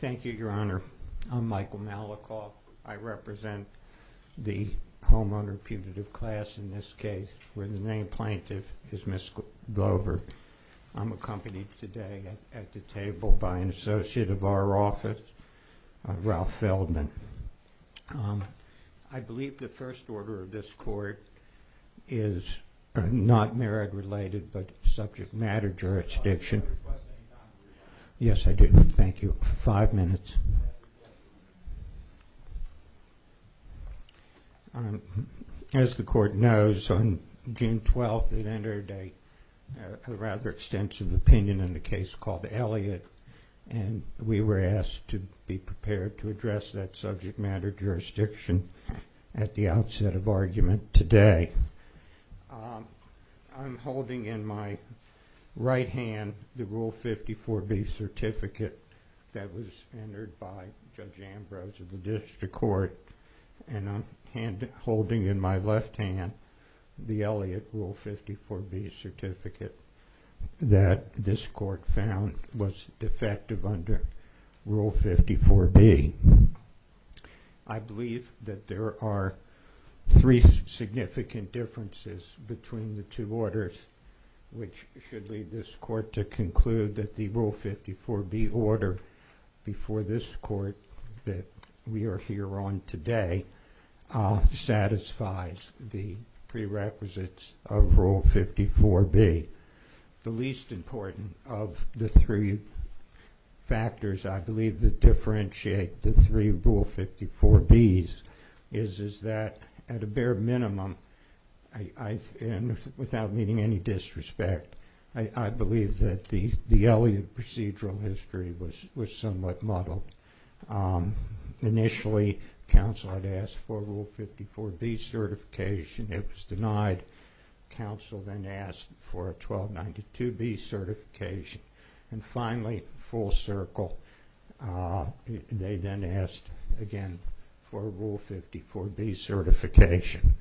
Thank you, Your Honor. I'm Michael Malikoff. I represent the homeowner putative class in this case where the name plaintiff is Ms. Glover. I'm accompanied today at the I believe the first order of this court is not merit related but subject matter jurisdiction. Yes, I do. Thank you. Five minutes. As the court knows on June 12th it entered a rather extensive opinion in the case called Elliott and we were to be prepared to address that subject matter jurisdiction at the outset of argument today. I'm holding in my right hand the Rule 54B certificate that was entered by Judge Ambrose of the District Court and I'm holding in my left hand the Elliott Rule 54B certificate that this court found was defective under Rule 54B. I believe that there are three significant differences between the two orders which should lead this court to conclude that the Rule 54B order before this court that we are here on today satisfies the prerequisites of Rule 54B. The least important of the three factors I believe that differentiate the three Rule 54Bs is that at a bare minimum, without meeting any disrespect, I believe that the Elliott procedural history was somewhat muddled. Initially, counsel had asked for Rule 54B certification. It was denied. Counsel then asked for a 1292B certification. And finally, full circle, they then asked again for a Rule 54B certification.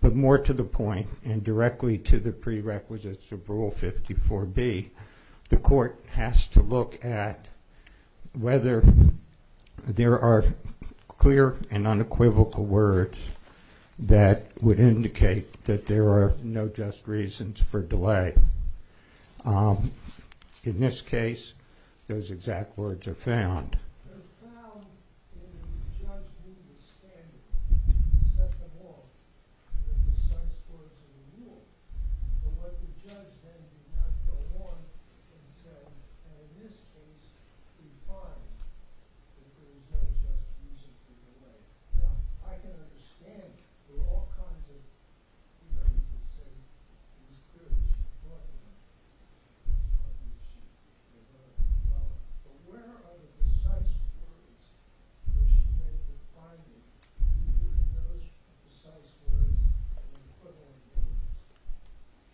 But more to the point and directly to the prerequisites of Rule 54B, the court has to look at whether there are clear and reasonable reasons for delay. In this case, those exact words are found.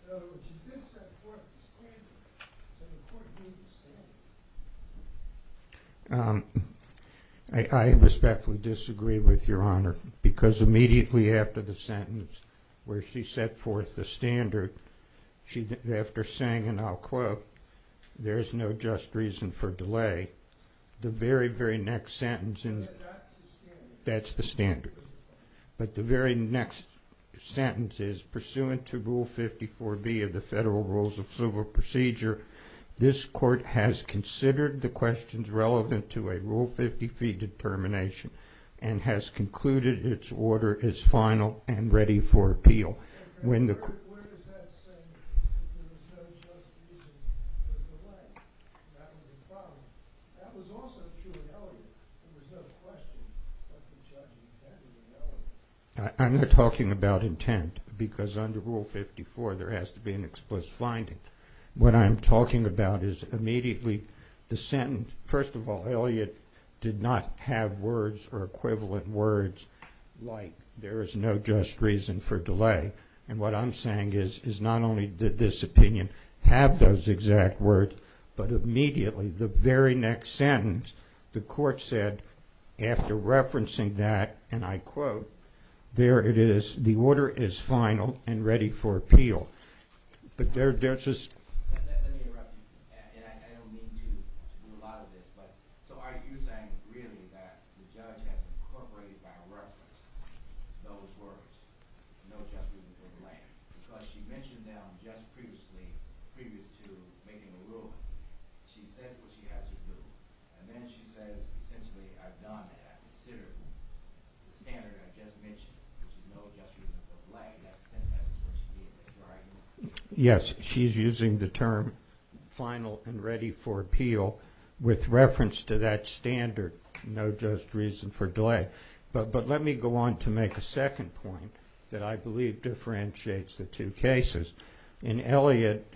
In other words, you did set forth the standard, so the court made the standard. I respectfully disagree with Your Honor because immediately after the sentence where she set forth the standard, after saying and I'll quote, there's no just reason for delay, the very, very next sentence in that's the standard. But the very next sentence is pursuant to Rule 54B of the Federal Rules of Civil Procedure, this court has considered the questions relevant to a Rule 54B appeal. I'm not talking about intent because under Rule 54 there has to be an explicit finding. What I'm talking about is immediately the sentence. First of all, Elliott did not have words or equivalent words like there is no just reason for delay. And what I'm saying is, is not only did this opinion have those exact words, but immediately the very next sentence, the court said after referencing that, and I quote, there it is, the order is final and ready for appeal with reference to that standard, no just reason for delay. But let me go on to make a second point that I believe differentiates the two cases. In Elliott,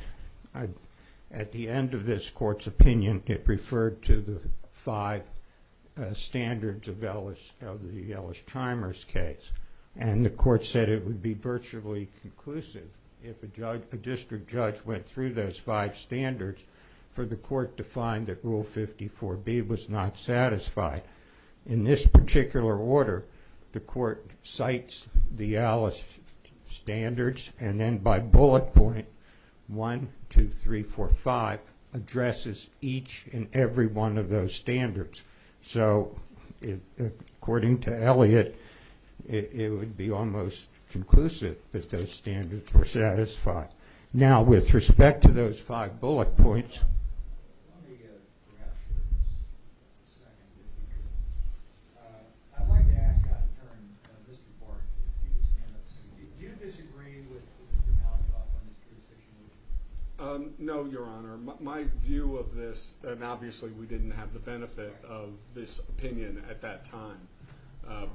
at the end of this court's opinion, it referred to the five standards of the Ellis Chimers case and the court said it would be virtually conclusive if a district judge went through those five standards for the court to find that Rule 54B was not satisfied. In this particular order, the court cites the Ellis standards and then by bullet point 1, 2, 3, 4, 5, addresses each and every one of those standards. So according to Elliott, it would be almost conclusive that those standards were not satisfied. I'd like to ask how to turn Mr. Barton. Did you disagree with Mr. Malkoff on this jurisdiction? No, your honor. My view of this, and obviously we didn't have the benefit of this opinion at that time,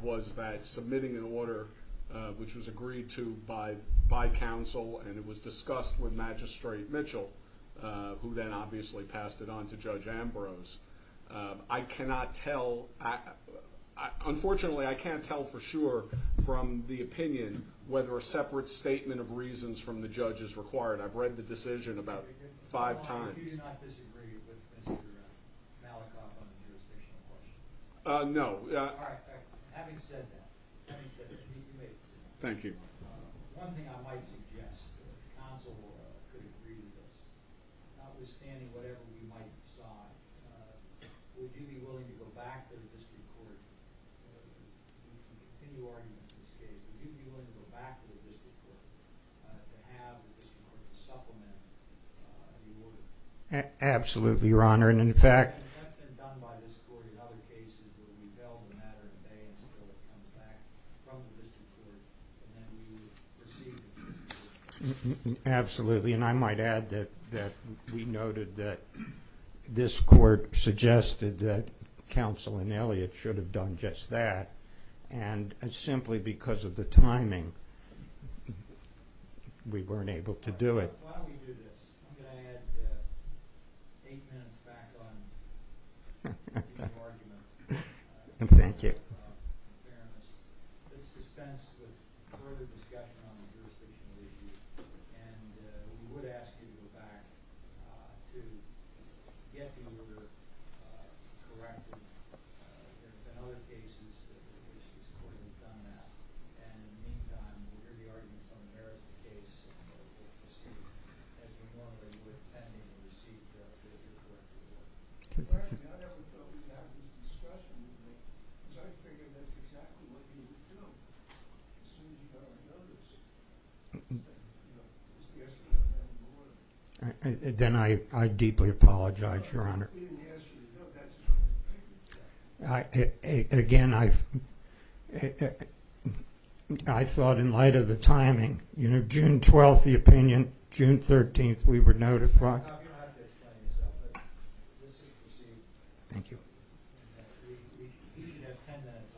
was that submitting an order which was agreed to by counsel and it was discussed with Magistrate Mitchell, who then obviously passed it on to Judge Ambrose. I cannot tell, unfortunately I can't tell for sure from the opinion whether a separate statement of reasons from the judge is required. I've read the decision about five times. Do you not disagree with Mr. Malkoff on the jurisdictional question? No. Having said that, one thing I might suggest, if counsel could agree with this, notwithstanding whatever we might decide, would you be willing to go back to the district court, in your argument in this case, would you be willing to go back to the district court to have the district court supplement the order? Absolutely, your honor, and in fact... In some cases where we bail the matter today and still it comes back from the district court, and then we receive... Absolutely, and I might add that we noted that this court suggested that counsel and Elliot should have done just that, and simply because of the timing, we weren't able to do it. While we do this, I'm going to add eight minutes back on the argument. Thank you. Let's dispense with further discussion on the jurisdictional issue, and we would ask you to go back to get the order corrected. There have been other cases where this court has done that, and in the meantime, we'll hear the arguments on the merits of the case, as we normally would, pending the receipt of the correct order. Pardon me, I never thought we'd have this discussion, because I figured that's exactly what you would do, as soon as you got our notice. Then I deeply apologize, your honor. We didn't ask you to go, that's not what we think. Again, I thought in light of the timing, you know, June 12th, the opinion, June 13th, we were notified. You don't have to explain yourself, but this is perceived. Thank you. You should have ten minutes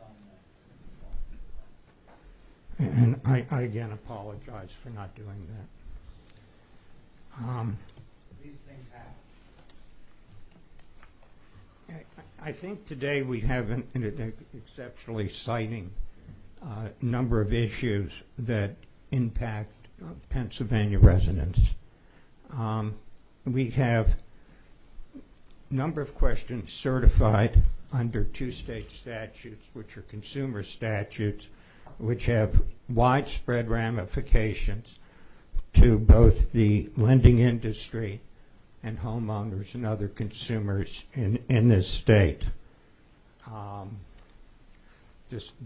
on that. And I again apologize for not doing that. These things happen. I think today we have an exceptionally exciting number of issues that impact Pennsylvania residents. We have a number of questions certified under two state statutes, which are consumer statutes, which have widespread ramifications to both the lending industry and homeowners and other consumers in this state.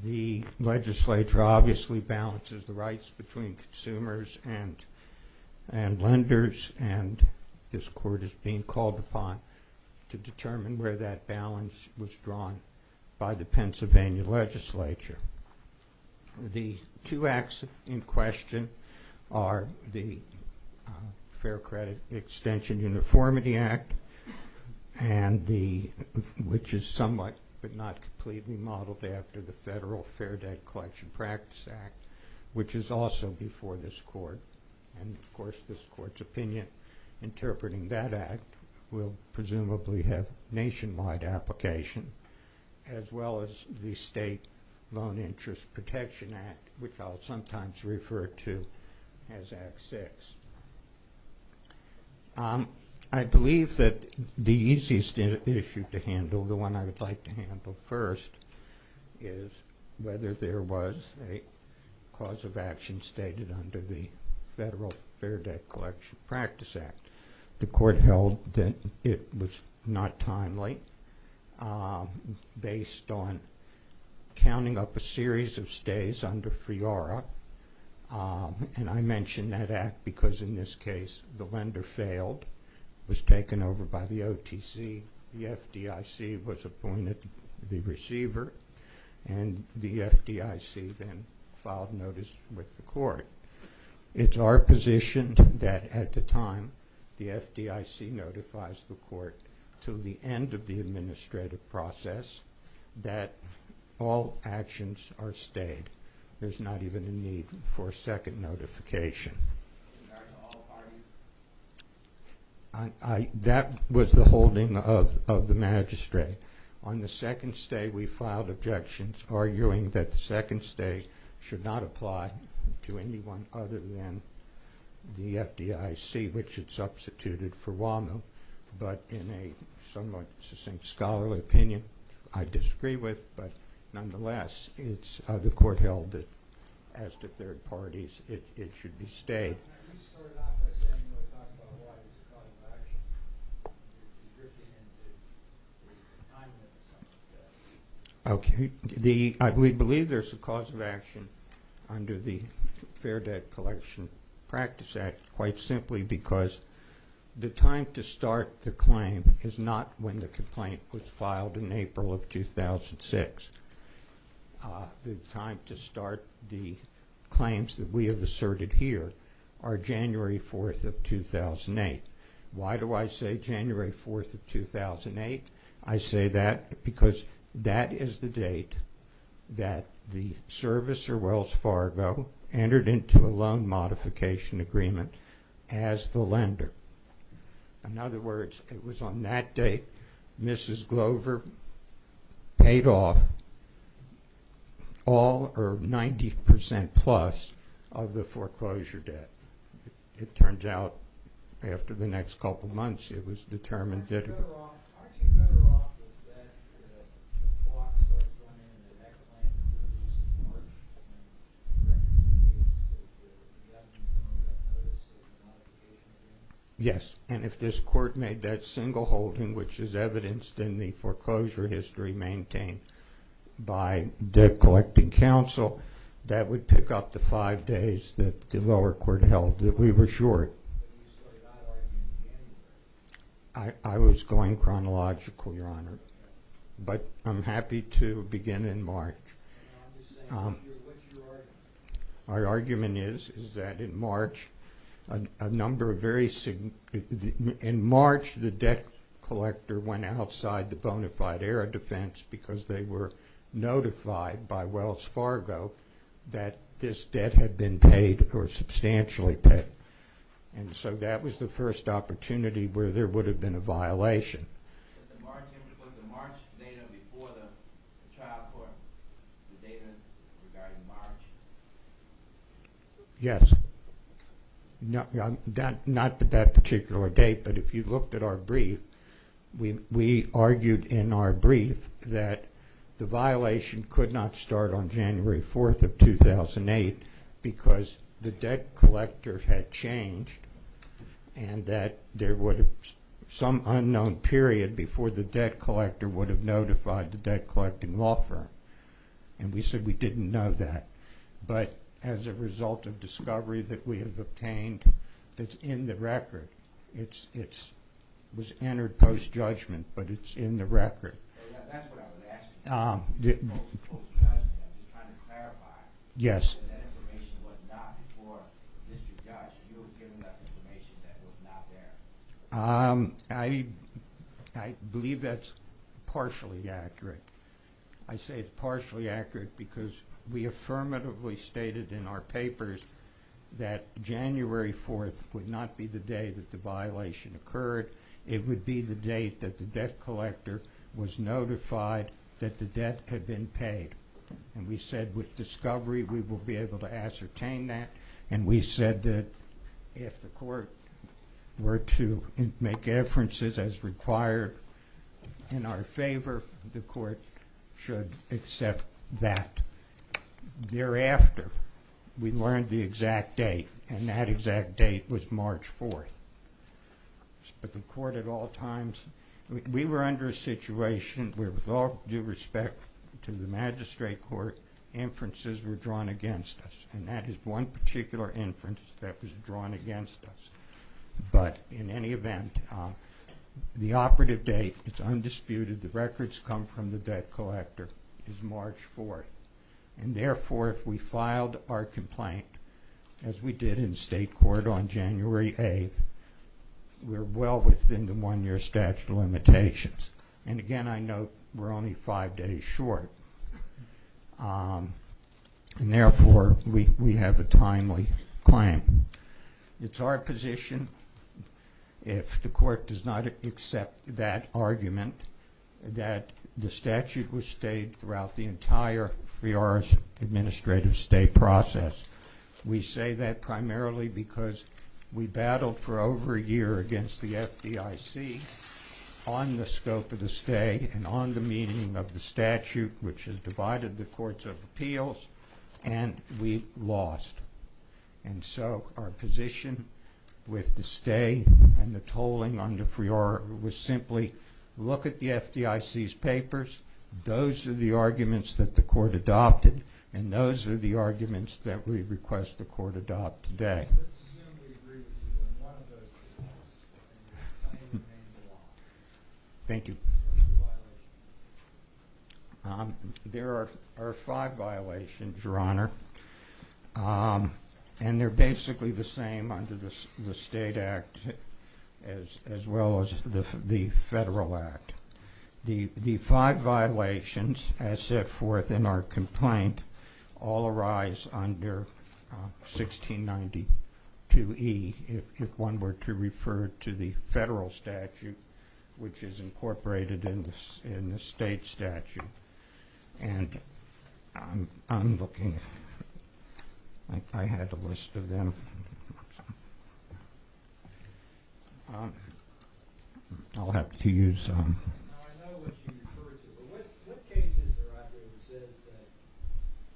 The legislature obviously balances the rights between consumers and lenders, and this court is being called upon to determine where that balance was drawn by the Pennsylvania legislature. The two acts in question are the Fair Credit Extension Uniformity Act, which is somewhat but not completely modeled after the Federal Fair Debt Collection Practice Act, which is also before this court. And of course, this court's opinion interpreting that act will presumably have nationwide application, as well as the State Loan Interest Protection Act, which I'll sometimes refer to as Act 6. I believe that the easiest issue to handle, the one I would like to handle first, is whether there was a cause of action stated under the Federal Fair Debt Collection Practice Act. The court held that it was not timely, based on counting up a series of stays under FIORA, and I mention that act because in this case the lender failed, was taken over by the OTC, the FDIC was appointed the receiver, and the FDIC then filed notice with the court. It's our position that at the time the FDIC notifies the court to the end of the administrative process that all actions are stayed. There's not even a need for a second notification. That was the holding of the magistrate. On the second stay we filed objections arguing that the second stay should not apply to anyone other than the FDIC, which it substituted for WAMU, but in a somewhat succinct scholarly opinion, I disagree with, but nonetheless it's the court held that as to third parties it should be stayed. Can you start off by saying why there's a cause of action? You're drifting into the confinement of some of the... Okay. We believe there's a cause of action under the Fair Debt Collection Practice Act quite simply because the time to start the claim is not when the complaint was filed in April of 2006. The time to start the claims that we have asserted here are January 4th of 2008. Why do I say January 4th of 2008? I say that because that is the date that the service or Wells Fargo entered into a loan modification agreement as the lender. In other words, it was on that date Mrs. Glover paid off all or 90% plus of the foreclosure debt. It turns out after the next couple months it was determined that... Aren't you better off with that if the clock starts running and the next claim is released in March and the case is the death from a notice of a modification agreement? Yes, and if this court made that single holding which is evidenced in the foreclosure history maintained by Debt Collecting Council, that would pick up the five days that the lower court held that we were short. But you started out arguing in January. I was going chronological, Your Honor, but I'm happy to begin in March. I'm just saying, what's your argument? My argument is that in March a number of very significant... In March the debt collector went outside the bona fide air defense because they were notified by Wells Fargo that this debt had been paid or substantially paid. And so that was the first opportunity where there would have been a violation. Was the March data before the trial court, the data regarding March? Yes. Not at that particular date, but if you looked at our brief, we argued in our brief that the violation could not start on January 4th of 2008 because the debt collector had changed and that there would have been some unknown period before the debt collector would have notified the debt collecting law firm. And we said we didn't know that. But as a result of discovery that we have obtained, it's in the record. It was entered post-judgment, but it's in the record. That's what I was asking. Post-judgment, I'm just trying to clarify whether that information was not before Mr. Judge you were giving us information that was not there. I believe that's partially accurate. I say it's partially accurate because we affirmatively stated in our papers that January 4th would not be the day that the violation occurred. It would be the date that the debt collector was notified that the debt had been paid. And we said with discovery, we will be able to ascertain that. And we said that if the court were to make inferences as required in our favor, the court should accept that. Thereafter, we learned the exact date, and that exact date was March 4th. But the court at all times... We were under a situation where with all due respect to the magistrate court, inferences were drawn against us. And that is one particular inference that was drawn against us. But in any event, the operative date, it's undisputed, the records come from the debt collector, is March 4th. And therefore, if we filed our complaint, as we did in state court on January 8th, we're well within the one-year statute of limitations. And again, I note we're only five days short. And therefore, we have a timely claim. It's our position, if the court does not accept that argument, that the statute was stayed throughout the entire Fiora's administrative stay process. We say that primarily because we battled for over a year against the FDIC on the scope of the stay and on the meaning of the statute, which has divided the courts of appeals, and we lost. And so our position with the stay and the tolling under Fiora was simply look at the FDIC's papers. Those are the arguments that the court adopted, and those are the arguments that we request the court adopt today. Thank you. There are five violations, Your Honor, and they're basically the same under the state act as well as the federal act. The five violations, as set forth in our complaint, all arise under 1692E if one were to refer to the federal statute, which is incorporated in the state statute. And I'm looking... I had a list of them. I'll have to use... I know what you refer to, but what cases are out there that says that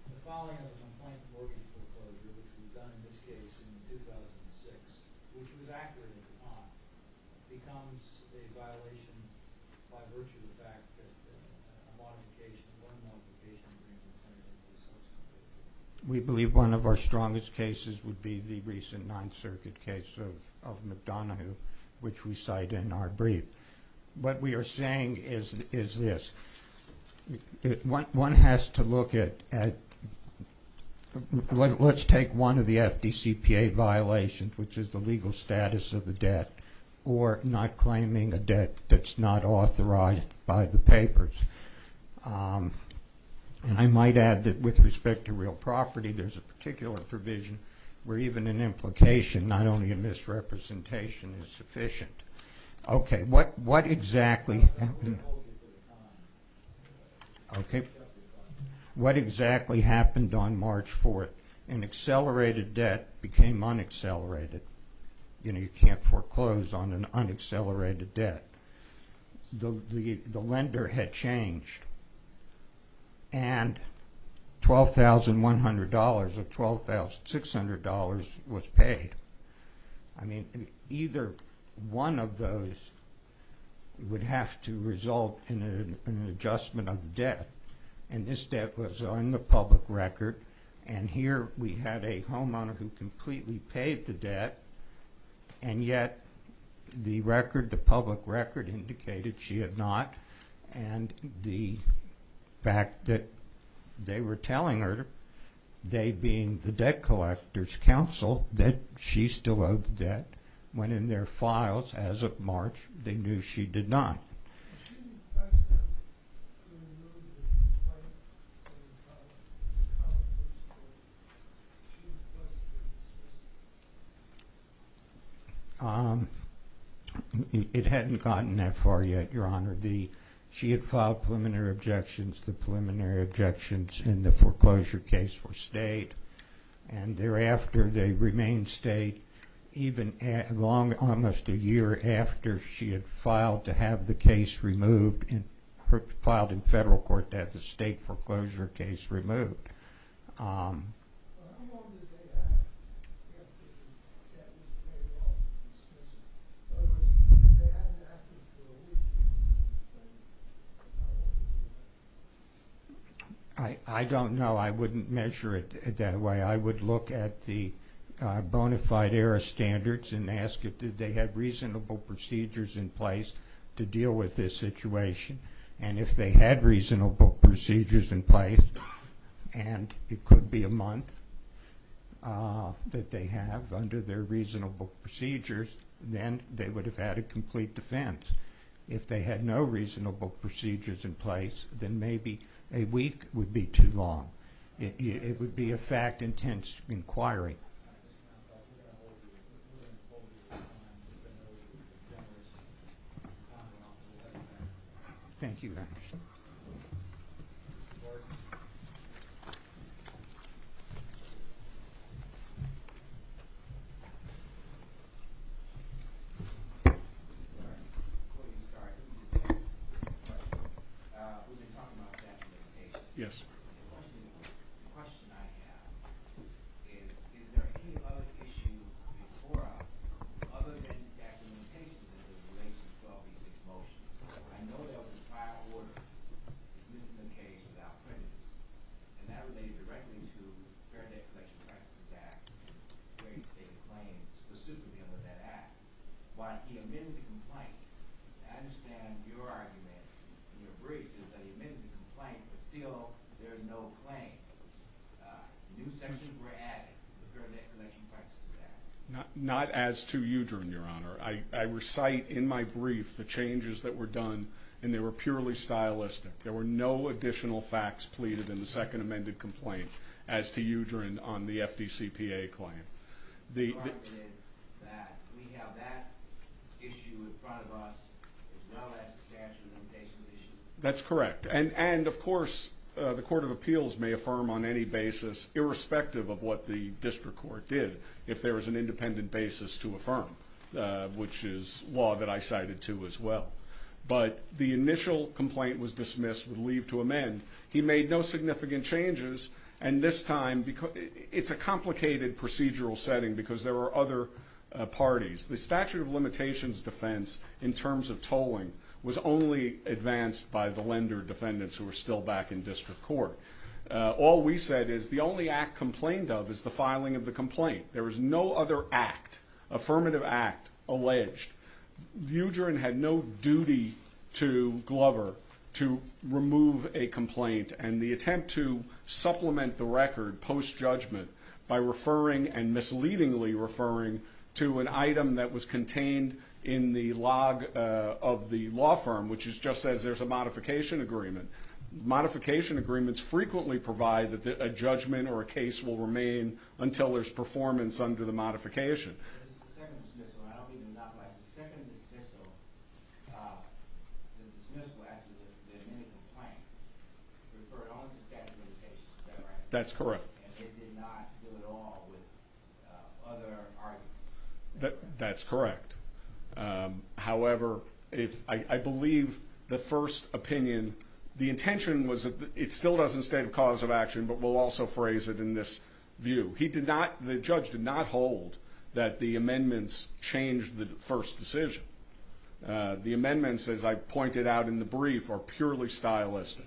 the following of the complaint of mortgage foreclosure, which was done in this case in 2006, which was accurate in Kapan, becomes a violation by virtue of the fact that a modification, one modification was made to the statute? We believe one of our strongest cases would be the recent Ninth Circuit case of McDonoghue, which we cite in our brief. What we are saying is this. One has to look at... Let's take one of the FDCPA violations, which is the legal status of the debt or not claiming a debt that's not authorized by the papers. And I might add that with respect to real property, there's a particular provision where even an implication, not only a misrepresentation, is sufficient. Okay. What exactly happened... Okay. What exactly happened on March 4th? An accelerated debt became unaccelerated. You know, you can't foreclose on an unaccelerated debt. The lender had changed. And $12,100 or $12,600 was paid. I mean, either one of those would have to result in an adjustment of the debt. And this debt was on the public record. And here we had a homeowner who completely paid the debt, and yet the record, the public record, indicated she had not. And the fact that they were telling her, they being the Debt Collectors' Council, that she still owed the debt, when in their files, as of March, they knew she did not. She didn't request a preliminary complaint from the public? She didn't request a dismissal? It hadn't gotten that far yet, Your Honor. She had filed preliminary objections. The preliminary objections in the foreclosure case were stayed. And thereafter, they remained stayed even long, almost a year after she had filed to have the case removed, filed in federal court, to have the state foreclosure case removed. I don't know. I wouldn't measure it that way. I would look at the bona fide error standards and ask if they had reasonable procedures in place to deal with this situation. And if they had reasonable procedures in place, and it could be a month that they have under their reasonable procedures, then they would have had a complete defense. If they had no reasonable procedures in place, then maybe a week would be too long. It would be a fact-intense inquiry. Thank you. Yes. The question I have is, is there any other issue before us other than statutory limitations as it relates to the 12B6 motion? I know there was a prior order dismissing the case without prejudice, and that related directly to the Fair Debt Collection Practices Act and various stated claims pursuant to the end of that act. Why he amended the complaint, I understand your argument and your briefs is that he amended the complaint, but still there is no claim. New sections were added to the Fair Debt Collection Practices Act. Not as to Udrin, Your Honor. I recite in my brief the changes that were done and they were purely stylistic. There were no additional facts pleaded in the second amended complaint as to Udrin on the FDCPA claim. The argument is that we have that issue in front of us as well as the statutory limitation issue. That's correct and of course the Court of Appeals may affirm on any basis irrespective of what the District Court did if there is an independent basis to affirm which is law that I cited to as well. But the initial complaint was dismissed with leave to amend. He made no significant changes and this time it's a complicated procedural setting because there were other parties. The statute of limitations defense in terms of what was said by the lender defendants who were still back in District Court. All we said is the only act complained of is the filing of the complaint. There was no other act, affirmative act alleged. Udrin had no duty to Glover to remove a complaint and the attempt to supplement the record post judgment by referring and misleadingly referring to an item that was contained in the log of the law firm which just says there's a modification agreement. Modification agreements frequently provide that a judgment or a case will remain until there's performance under the modification. The second dismissal I don't mean the knock-blast the second dismissal the dismissal after the amendment of the complaint referred only to the statute of limitations is that right? That's correct. And they did not do it at all with other arguments? That's correct. However I believe the first opinion the intention was that it still doesn't state a cause of action but we'll also phrase it in this view. He did not the judge did not hold that the amendments changed the first decision. The amendments as I pointed out in the brief are purely stylistic.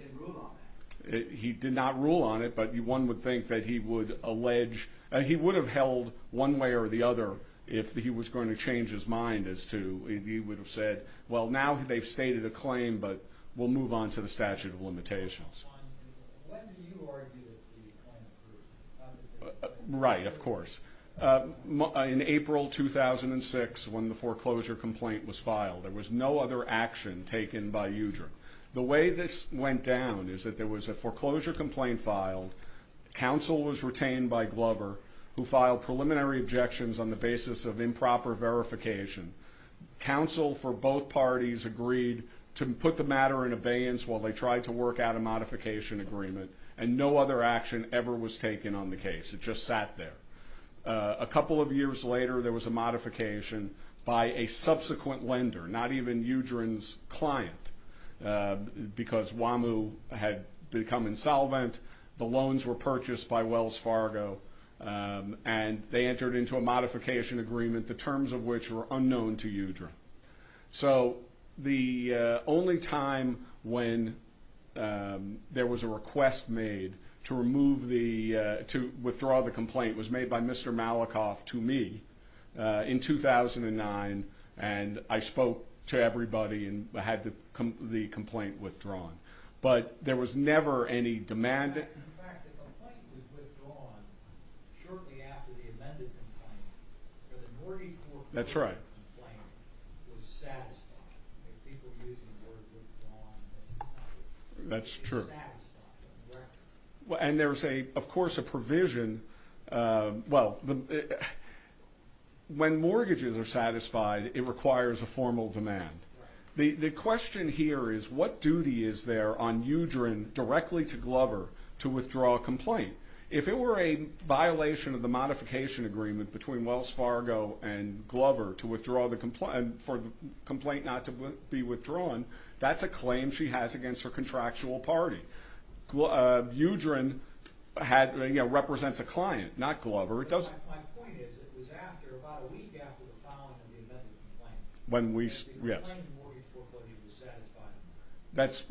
He did not rule on it but one would think that he would allege he would have held one way or the other if he was going to change his mind as to he would have said well now they've stated a claim but we'll move on to the of limitations. Right of course. In April 2006 when the foreclosure complaint was filed there was no other action taken by UDRA. The way this went down is that there was a foreclosure complaint filed counsel was retained by Glover who filed preliminary objections on the basis of improper verification. Counsel for both parties agreed to put the matter in abeyance while they tried to work out a modification agreement and no other action ever was taken on the case. It just sat there. A couple of years later there was a modification by a subsequent lender not even UDRA's client because WAMU had become insolvent the loans were purchased by Wells Fargo and they entered into a modification agreement the terms of which were unknown to UDRA. So the only time when there was a request made to remove the to withdraw the complaint was made by Mr. Malikoff to me in 2009 and I spoke to everybody and had the complaint withdrawn. But there was never any demand in fact the complaint was withdrawn shortly after the amended complaint but the mortgage court complaint was satisfied people using the word withdrawn that's true and there's of course a provision well when mortgages are satisfied it requires a formal demand. The question here is what duty is there on UDRA directly to Glover to withdraw a complaint? If it were a violation of the modification agreement between Wells Fargo and Glover to withdraw the complaint for the complaint not to be withdrawn that's a claim she has against her contractual party. UDRA had represents a client not Glover it doesn't My point is it was after about a week after the filing of the amended complaint. When we yes that's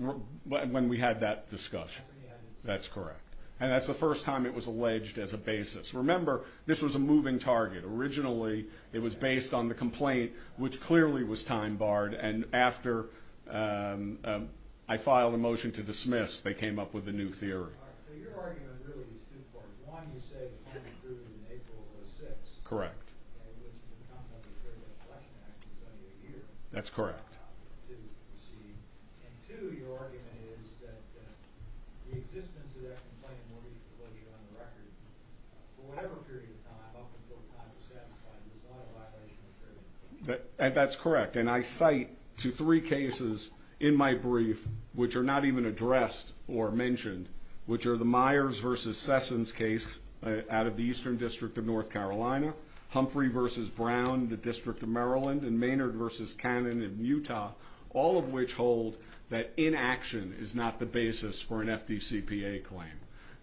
when we had that discussion that's correct and that's the first time it was alleged as a basis. Remember this was a moving target originally it was based on the complaint which clearly was time barred and after I filed a motion to dismiss they came up with a new theory. So your argument really is two parts one you say the complaint was approved in April of 2006 correct that's correct and two your argument is that the existence of that complaint mortgage was on the record for whatever period of time up until the time it was satisfied that's correct and I cite to three cases in my brief which are not even addressed or mentioned which are the Myers versus Sessons case out of the Eastern District of North Carolina Humphrey versus Brown the District of Maryland and Maynard versus Cannon in Utah all of which hold that inaction is not the basis for an FDCPA claim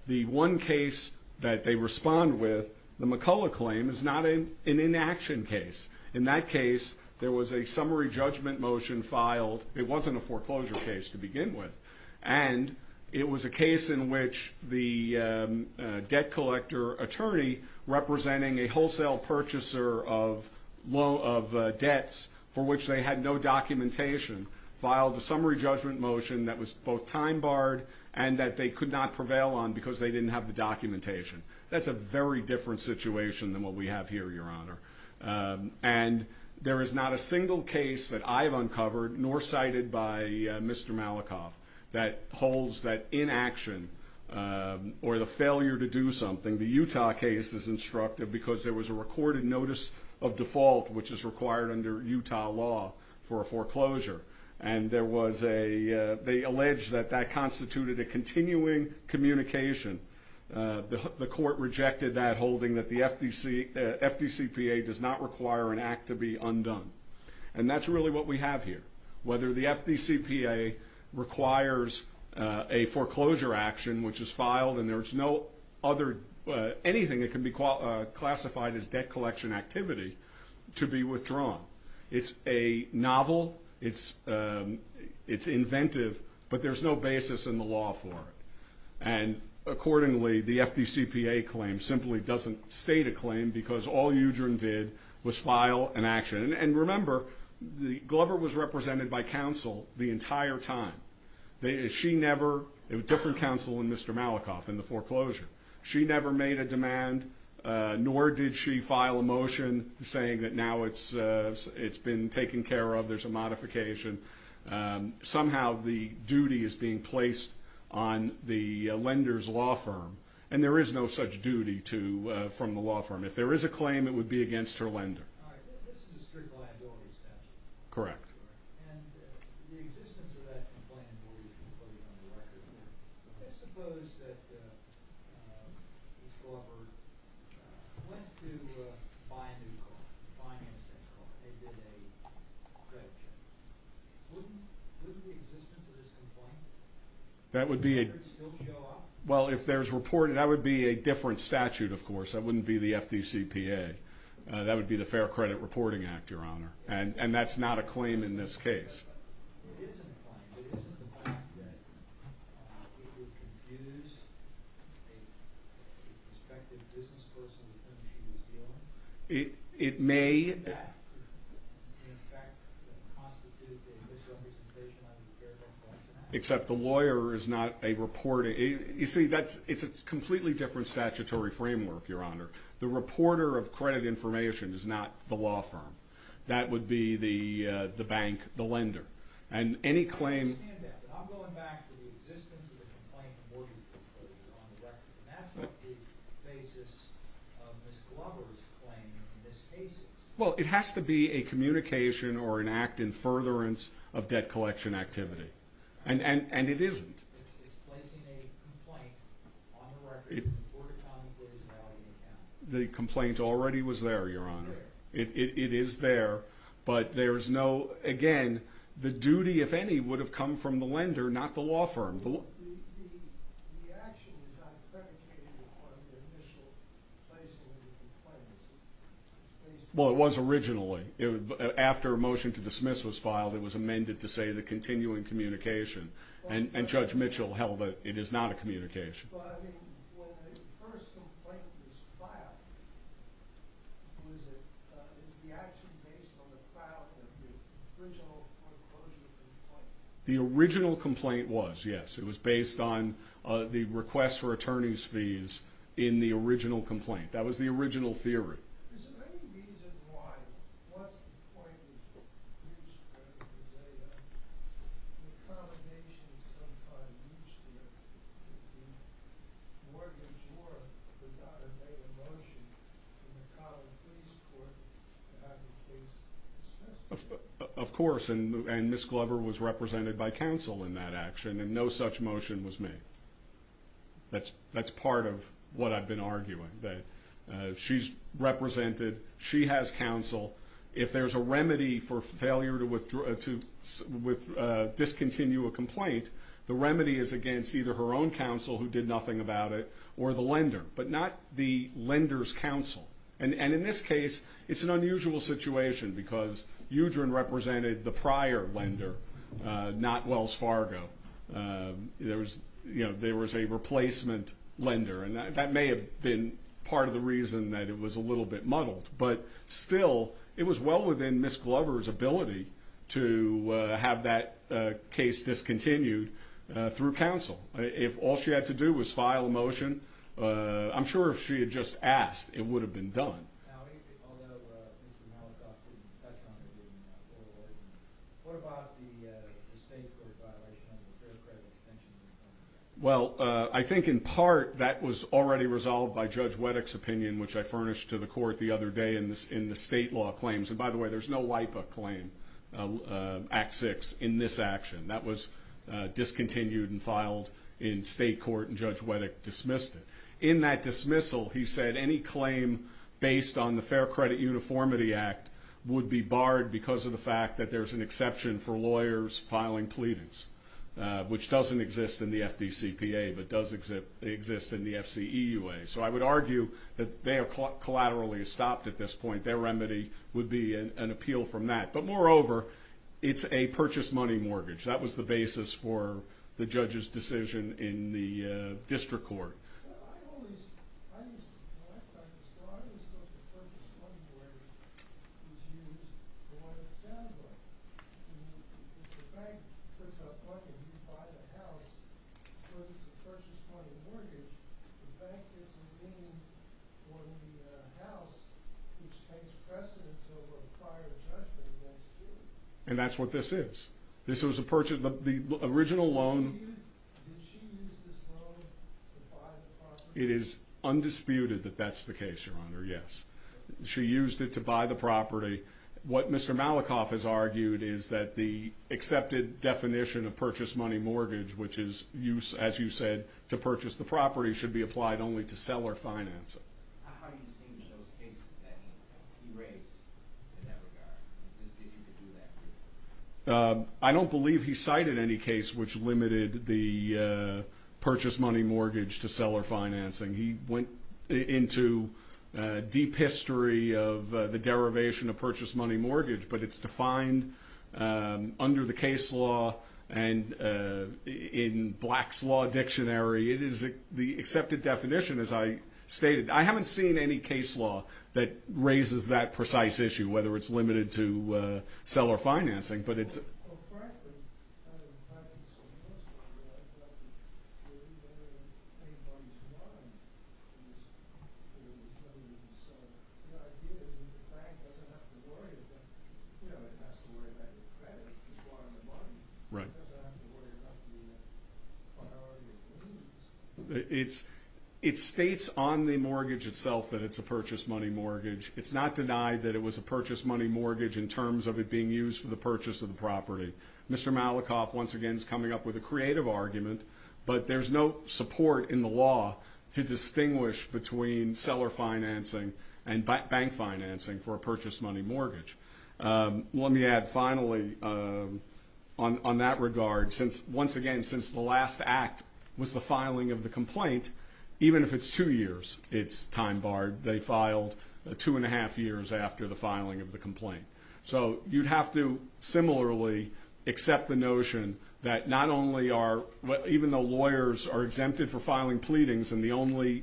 the one case that they respond with the McCullough claim is not an inaction case in that case there was a summary judgment motion filed it wasn't a summary judgment motion it was a case in which the debt collector attorney representing a wholesale purchaser of debts for which they had no documentation filed a summary judgment motion that was both time barred and that they could not prevail on because they didn't have the documentation that's a very different situation than what we have here your honor and there is not a single case that I've uncovered nor cited by Mr. Malikoff that holds that inaction or the failure to do something the Utah case is instructive because there was a recorded notice of default which is required under Utah law for a foreclosure and there was a they allege that that constituted a continuing communication the court rejected that holding that the FDC FDCPA does not require an act to be undone and that's really what we have here whether the FDCPA requires a foreclosure action which is filed and there's no other anything that can be classified as debt collection activity to be withdrawn it's a novel it's inventive but there's no basis in the law for it and accordingly the FDCPA claim simply doesn't state a claim because all Udrin did was file an action and remember Glover was represented by counsel the entire time she never different counsel than Mr. Malikoff in the foreclosure she never made a demand nor did she file a motion saying that now it's it's been taken care of there's a modification somehow the duty is being placed on the lender's law firm and there is no such duty from the law firm if there is a claim it would be against her lender alright this is a strict liability statute correct and the existence of that complaint where you can put it on the record let's suppose that uh Ms. Glover uh went to buy a new car finance that car they did a credit check wouldn't wouldn't the existence of this complaint that would be a still show up well if there's reported that would be a different statute of course that wouldn't be the FDCPA uh that would be the fair credit reporting act your honor and and that's not a claim in this case it isn't a claim it isn't the fact that it would confuse a prospective business person with whom she was dealing it it may in fact constitute a misrepresentation of the fair credit action except the lawyer is not a reporter you see that's it's a completely different statutory framework your honor the reporter of credit information is not the law firm that would be the uh the bank the lender and any claim I understand that but I'm going back to the existence of the complaint mortgage disclosure on the record and that's not the basis of Ms. Glover's claim in this case well it has to be a communication or an act in furtherance of debt collection activity and and and it isn't it's placing a complaint on the record that the mortgage company is now in account the complaint already was there your honor it is there but there is no again the duty if any would have come from the lender not the law firm the action was not predicated on the initial placing of the claim well it was originally it was after a motion to dismiss was filed it was amended to say the continuing communication and and Judge Mitchell held that it is not a communication but I mean when the first complaint was filed was it uh is the action based on the file of the original mortgage complaint the original complaint was yes it was based on the request for attorney's fees in the original complaint that was the of course and Ms. Glover was represented by counsel in that action and no such motion was made that's that's part of what I've been arguing that she's represented she has counsel if there's a remedy for failure to discontinue a complaint the remedy is against either her own counsel who did nothing about it or the lender but not the lender's it's an unusual situation because Udren represented the prior lender not Wells Fargo there was you know there was a replacement lender and that may have been part of the reason that it was a little bit muddled but still it was well within Ms. Glover's ability to have that case discontinued through counsel if all she had to do was file a motion I'm sure if she had just asked it would have been done well I think in part that was already resolved by Judge Weddick's opinion which I furnished to the court the other day in the state law claims and by the way there's no LIPA claim Act 6 in this action that was discontinued and filed in state court and Judge Weddick dismissed it in that dismissal he said any claim based on the Fair Credit Uniformity Act would be barred because of the fact that there's an exception for lawyers filing pleadings which doesn't exist in the FDCPA but does exist in the FCEUA so I would argue that they are collaterally stopped at this point their remedy would be an appeal from that but moreover it's a purchase money mortgage that was the basis for the judges decision in the district court on the house which takes precedence over prior judgment against you and that's what this is this was a purchase the original loan did she use this loan to buy the property it is undisputed that that's the case your honor yes she used it to buy the property what Mr. Malikoff has argued is that the accepted definition of purchase money mortgage which is as you said to purchase the property should be applied only to seller financing I don't believe he cited any case which limited the purchase money mortgage to seller financing he went into deep history of the derivation of purchase money mortgage but it's defined under the case law and in blacks law dictionary it is the accepted definition as I stated I haven't seen any case law that raises that precise issue whether it's limited to seller financing but it's it's it states on the mortgage itself that it's a purchase money mortgage it's not denied that it was a purchase money mortgage in terms of it being used for the purchase of the property Mr. Malikoff once again is coming up with a creative argument but there's no support in the law to distinguish between seller financing and bank financing for a purchase money mortgage let me add finally on that regard since once again since the last act was the filing of the complaint even if it's two years it's time barred they filed two and a half years after the filing of the complaint so you'd have to similarly accept the notion that not only are even though lawyers are exempted for filing pleadings and the only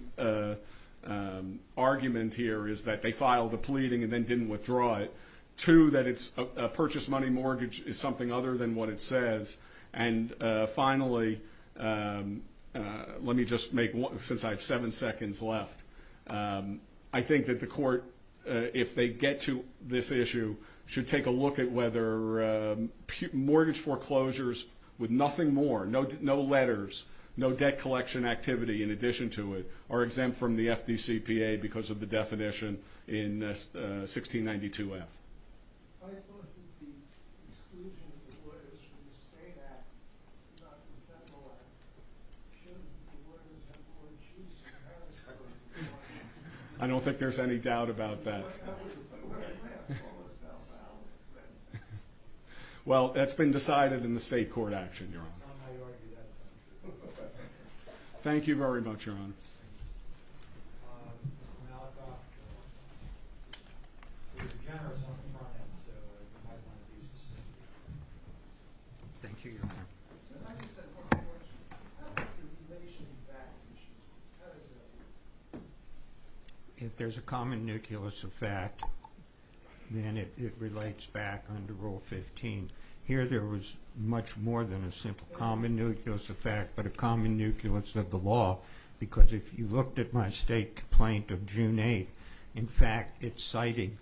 argument here is that they filed a pleading and then didn't withdraw it to that it's a purchase money mortgage is something other than what it says and finally let me just make since I have seven seconds left I think that the court if they get to this issue should take a look at whether mortgage foreclosures with nothing more no letters no debt collection activity in addition to it are exempt from the FDCPA because of the definition in 1692F I thought that the exclusion of the lawyers from the state act and not the federal act shouldn't the lawyers have more choice I don't think there's any doubt about that but where do I have to go with that file well that's been decided in the state court action thank you very much your honor um Mr. Malakoff uh there's a generous on the front end so it might want to be sustained thank you your honor if there's a common nucleus of fact then it it relates back under rule 15 here there was much more than a simple common nucleus of fact but a common nucleus of the law because if you looked at my state complaint of June 8th in fact it's citing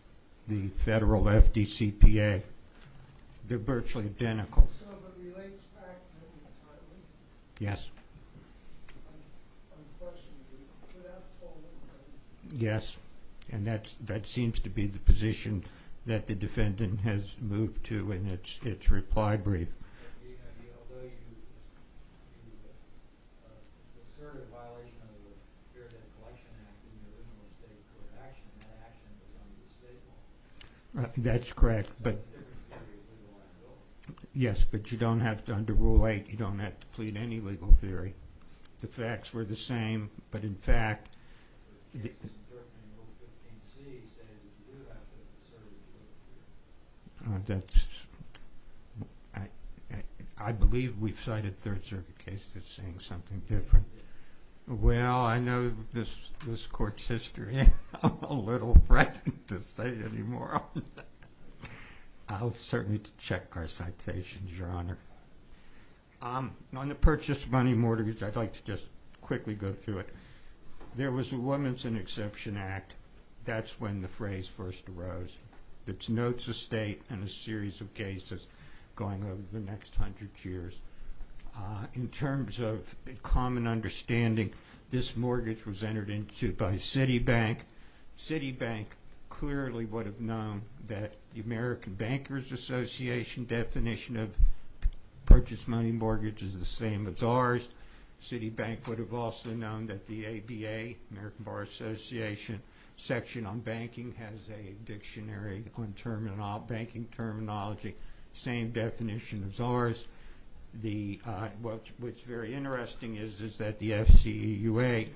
the federal FDCPA they're virtually identical yes yes and that's that seems to be the position that the defendant has moved to in its reply brief that's correct but yes but you don't have to under rule 8 you don't have to plead same but in fact uh that's I don't have to plead any legal theory the facts were the same but in fact I plead any legal theory I believe we've cited third circuit cases saying something different well I know this court's history I'm a little frightened to say any more I'll certainly check our citations your honor on the purchase money mortgages I'd like to just quickly go through it there was a woman's exception act that's when the phrase first arose it's notes of state and a series of cases going over the next hundred years in terms of common understanding this mortgage was entered into by city bank city bank clearly would have known that the American bankers association definition of purchase money mortgage is the same as ours city bank would have also known that the ABA section on banking has a dictionary on terminology same definition as ours what's very interesting is that the FCEUA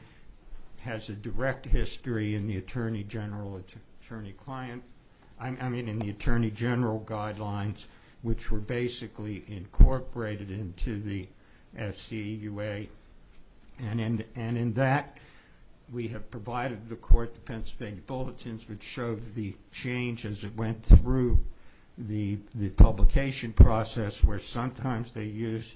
has a direct history in the attorney general guidelines which were basically incorporated into the FCEUA and in that we have provided the court the Pennsylvania bulletins which showed the changes that went through the publication process where sometimes they used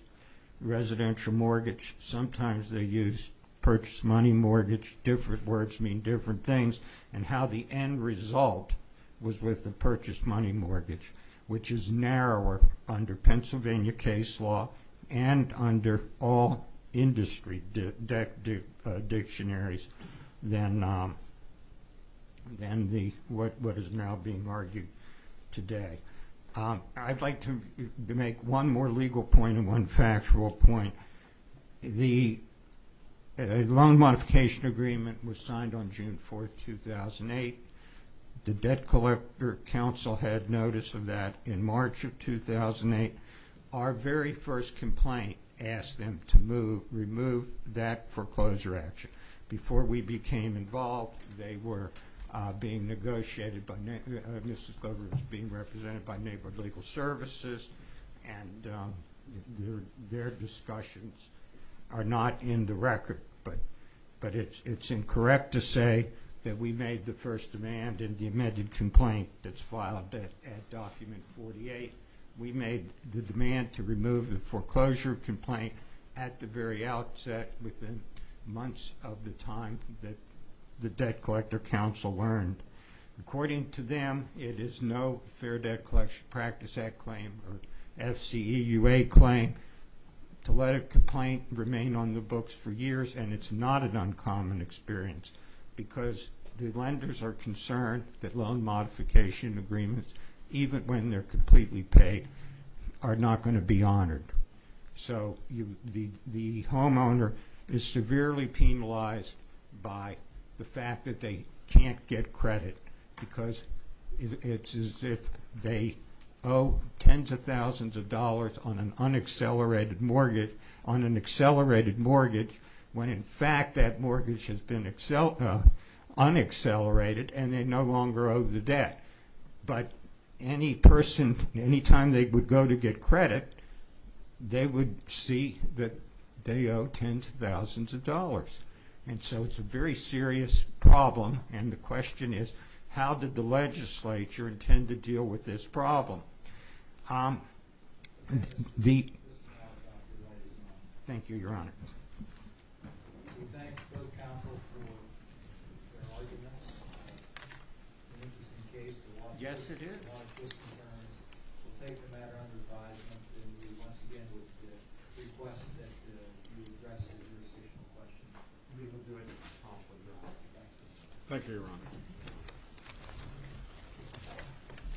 residential mortgage sometimes they used purchase money mortgage different words mean different things and how the end result was with the purchase money mortgage which is narrower under Pennsylvania case law and under all industry dictionaries than what is now being argued today. I would like to make one more legal point and one factual point. The loan modification agreement was signed on June 4, 2008. The debt collector council had notice of that in March of 2008. Our very first complaint asked them to remove that foreclosure action. Before we became involved, they were being negotiated by neighborhood legal services and their discussions are not in the record, but it is incorrect to say that we made the first demand and the loan was signed in March of 2008. It is not an uncommon experience because the lenders are concerned that loan modification agreements, even when they are completely paid, are not going to get credit. They are severely penalized by the fact that they can't get credit because it is as if they owe tens of thousands of dollars on an accelerated mortgage when in fact that mortgage has been unaccelerated and they no longer owe the lender thousands of dollars. So it is a very serious problem and the question is how did the legislature intend to deal with this problem? Thank you, Your Honor. We thank both counsel for their arguments. Thank you, Your Honor.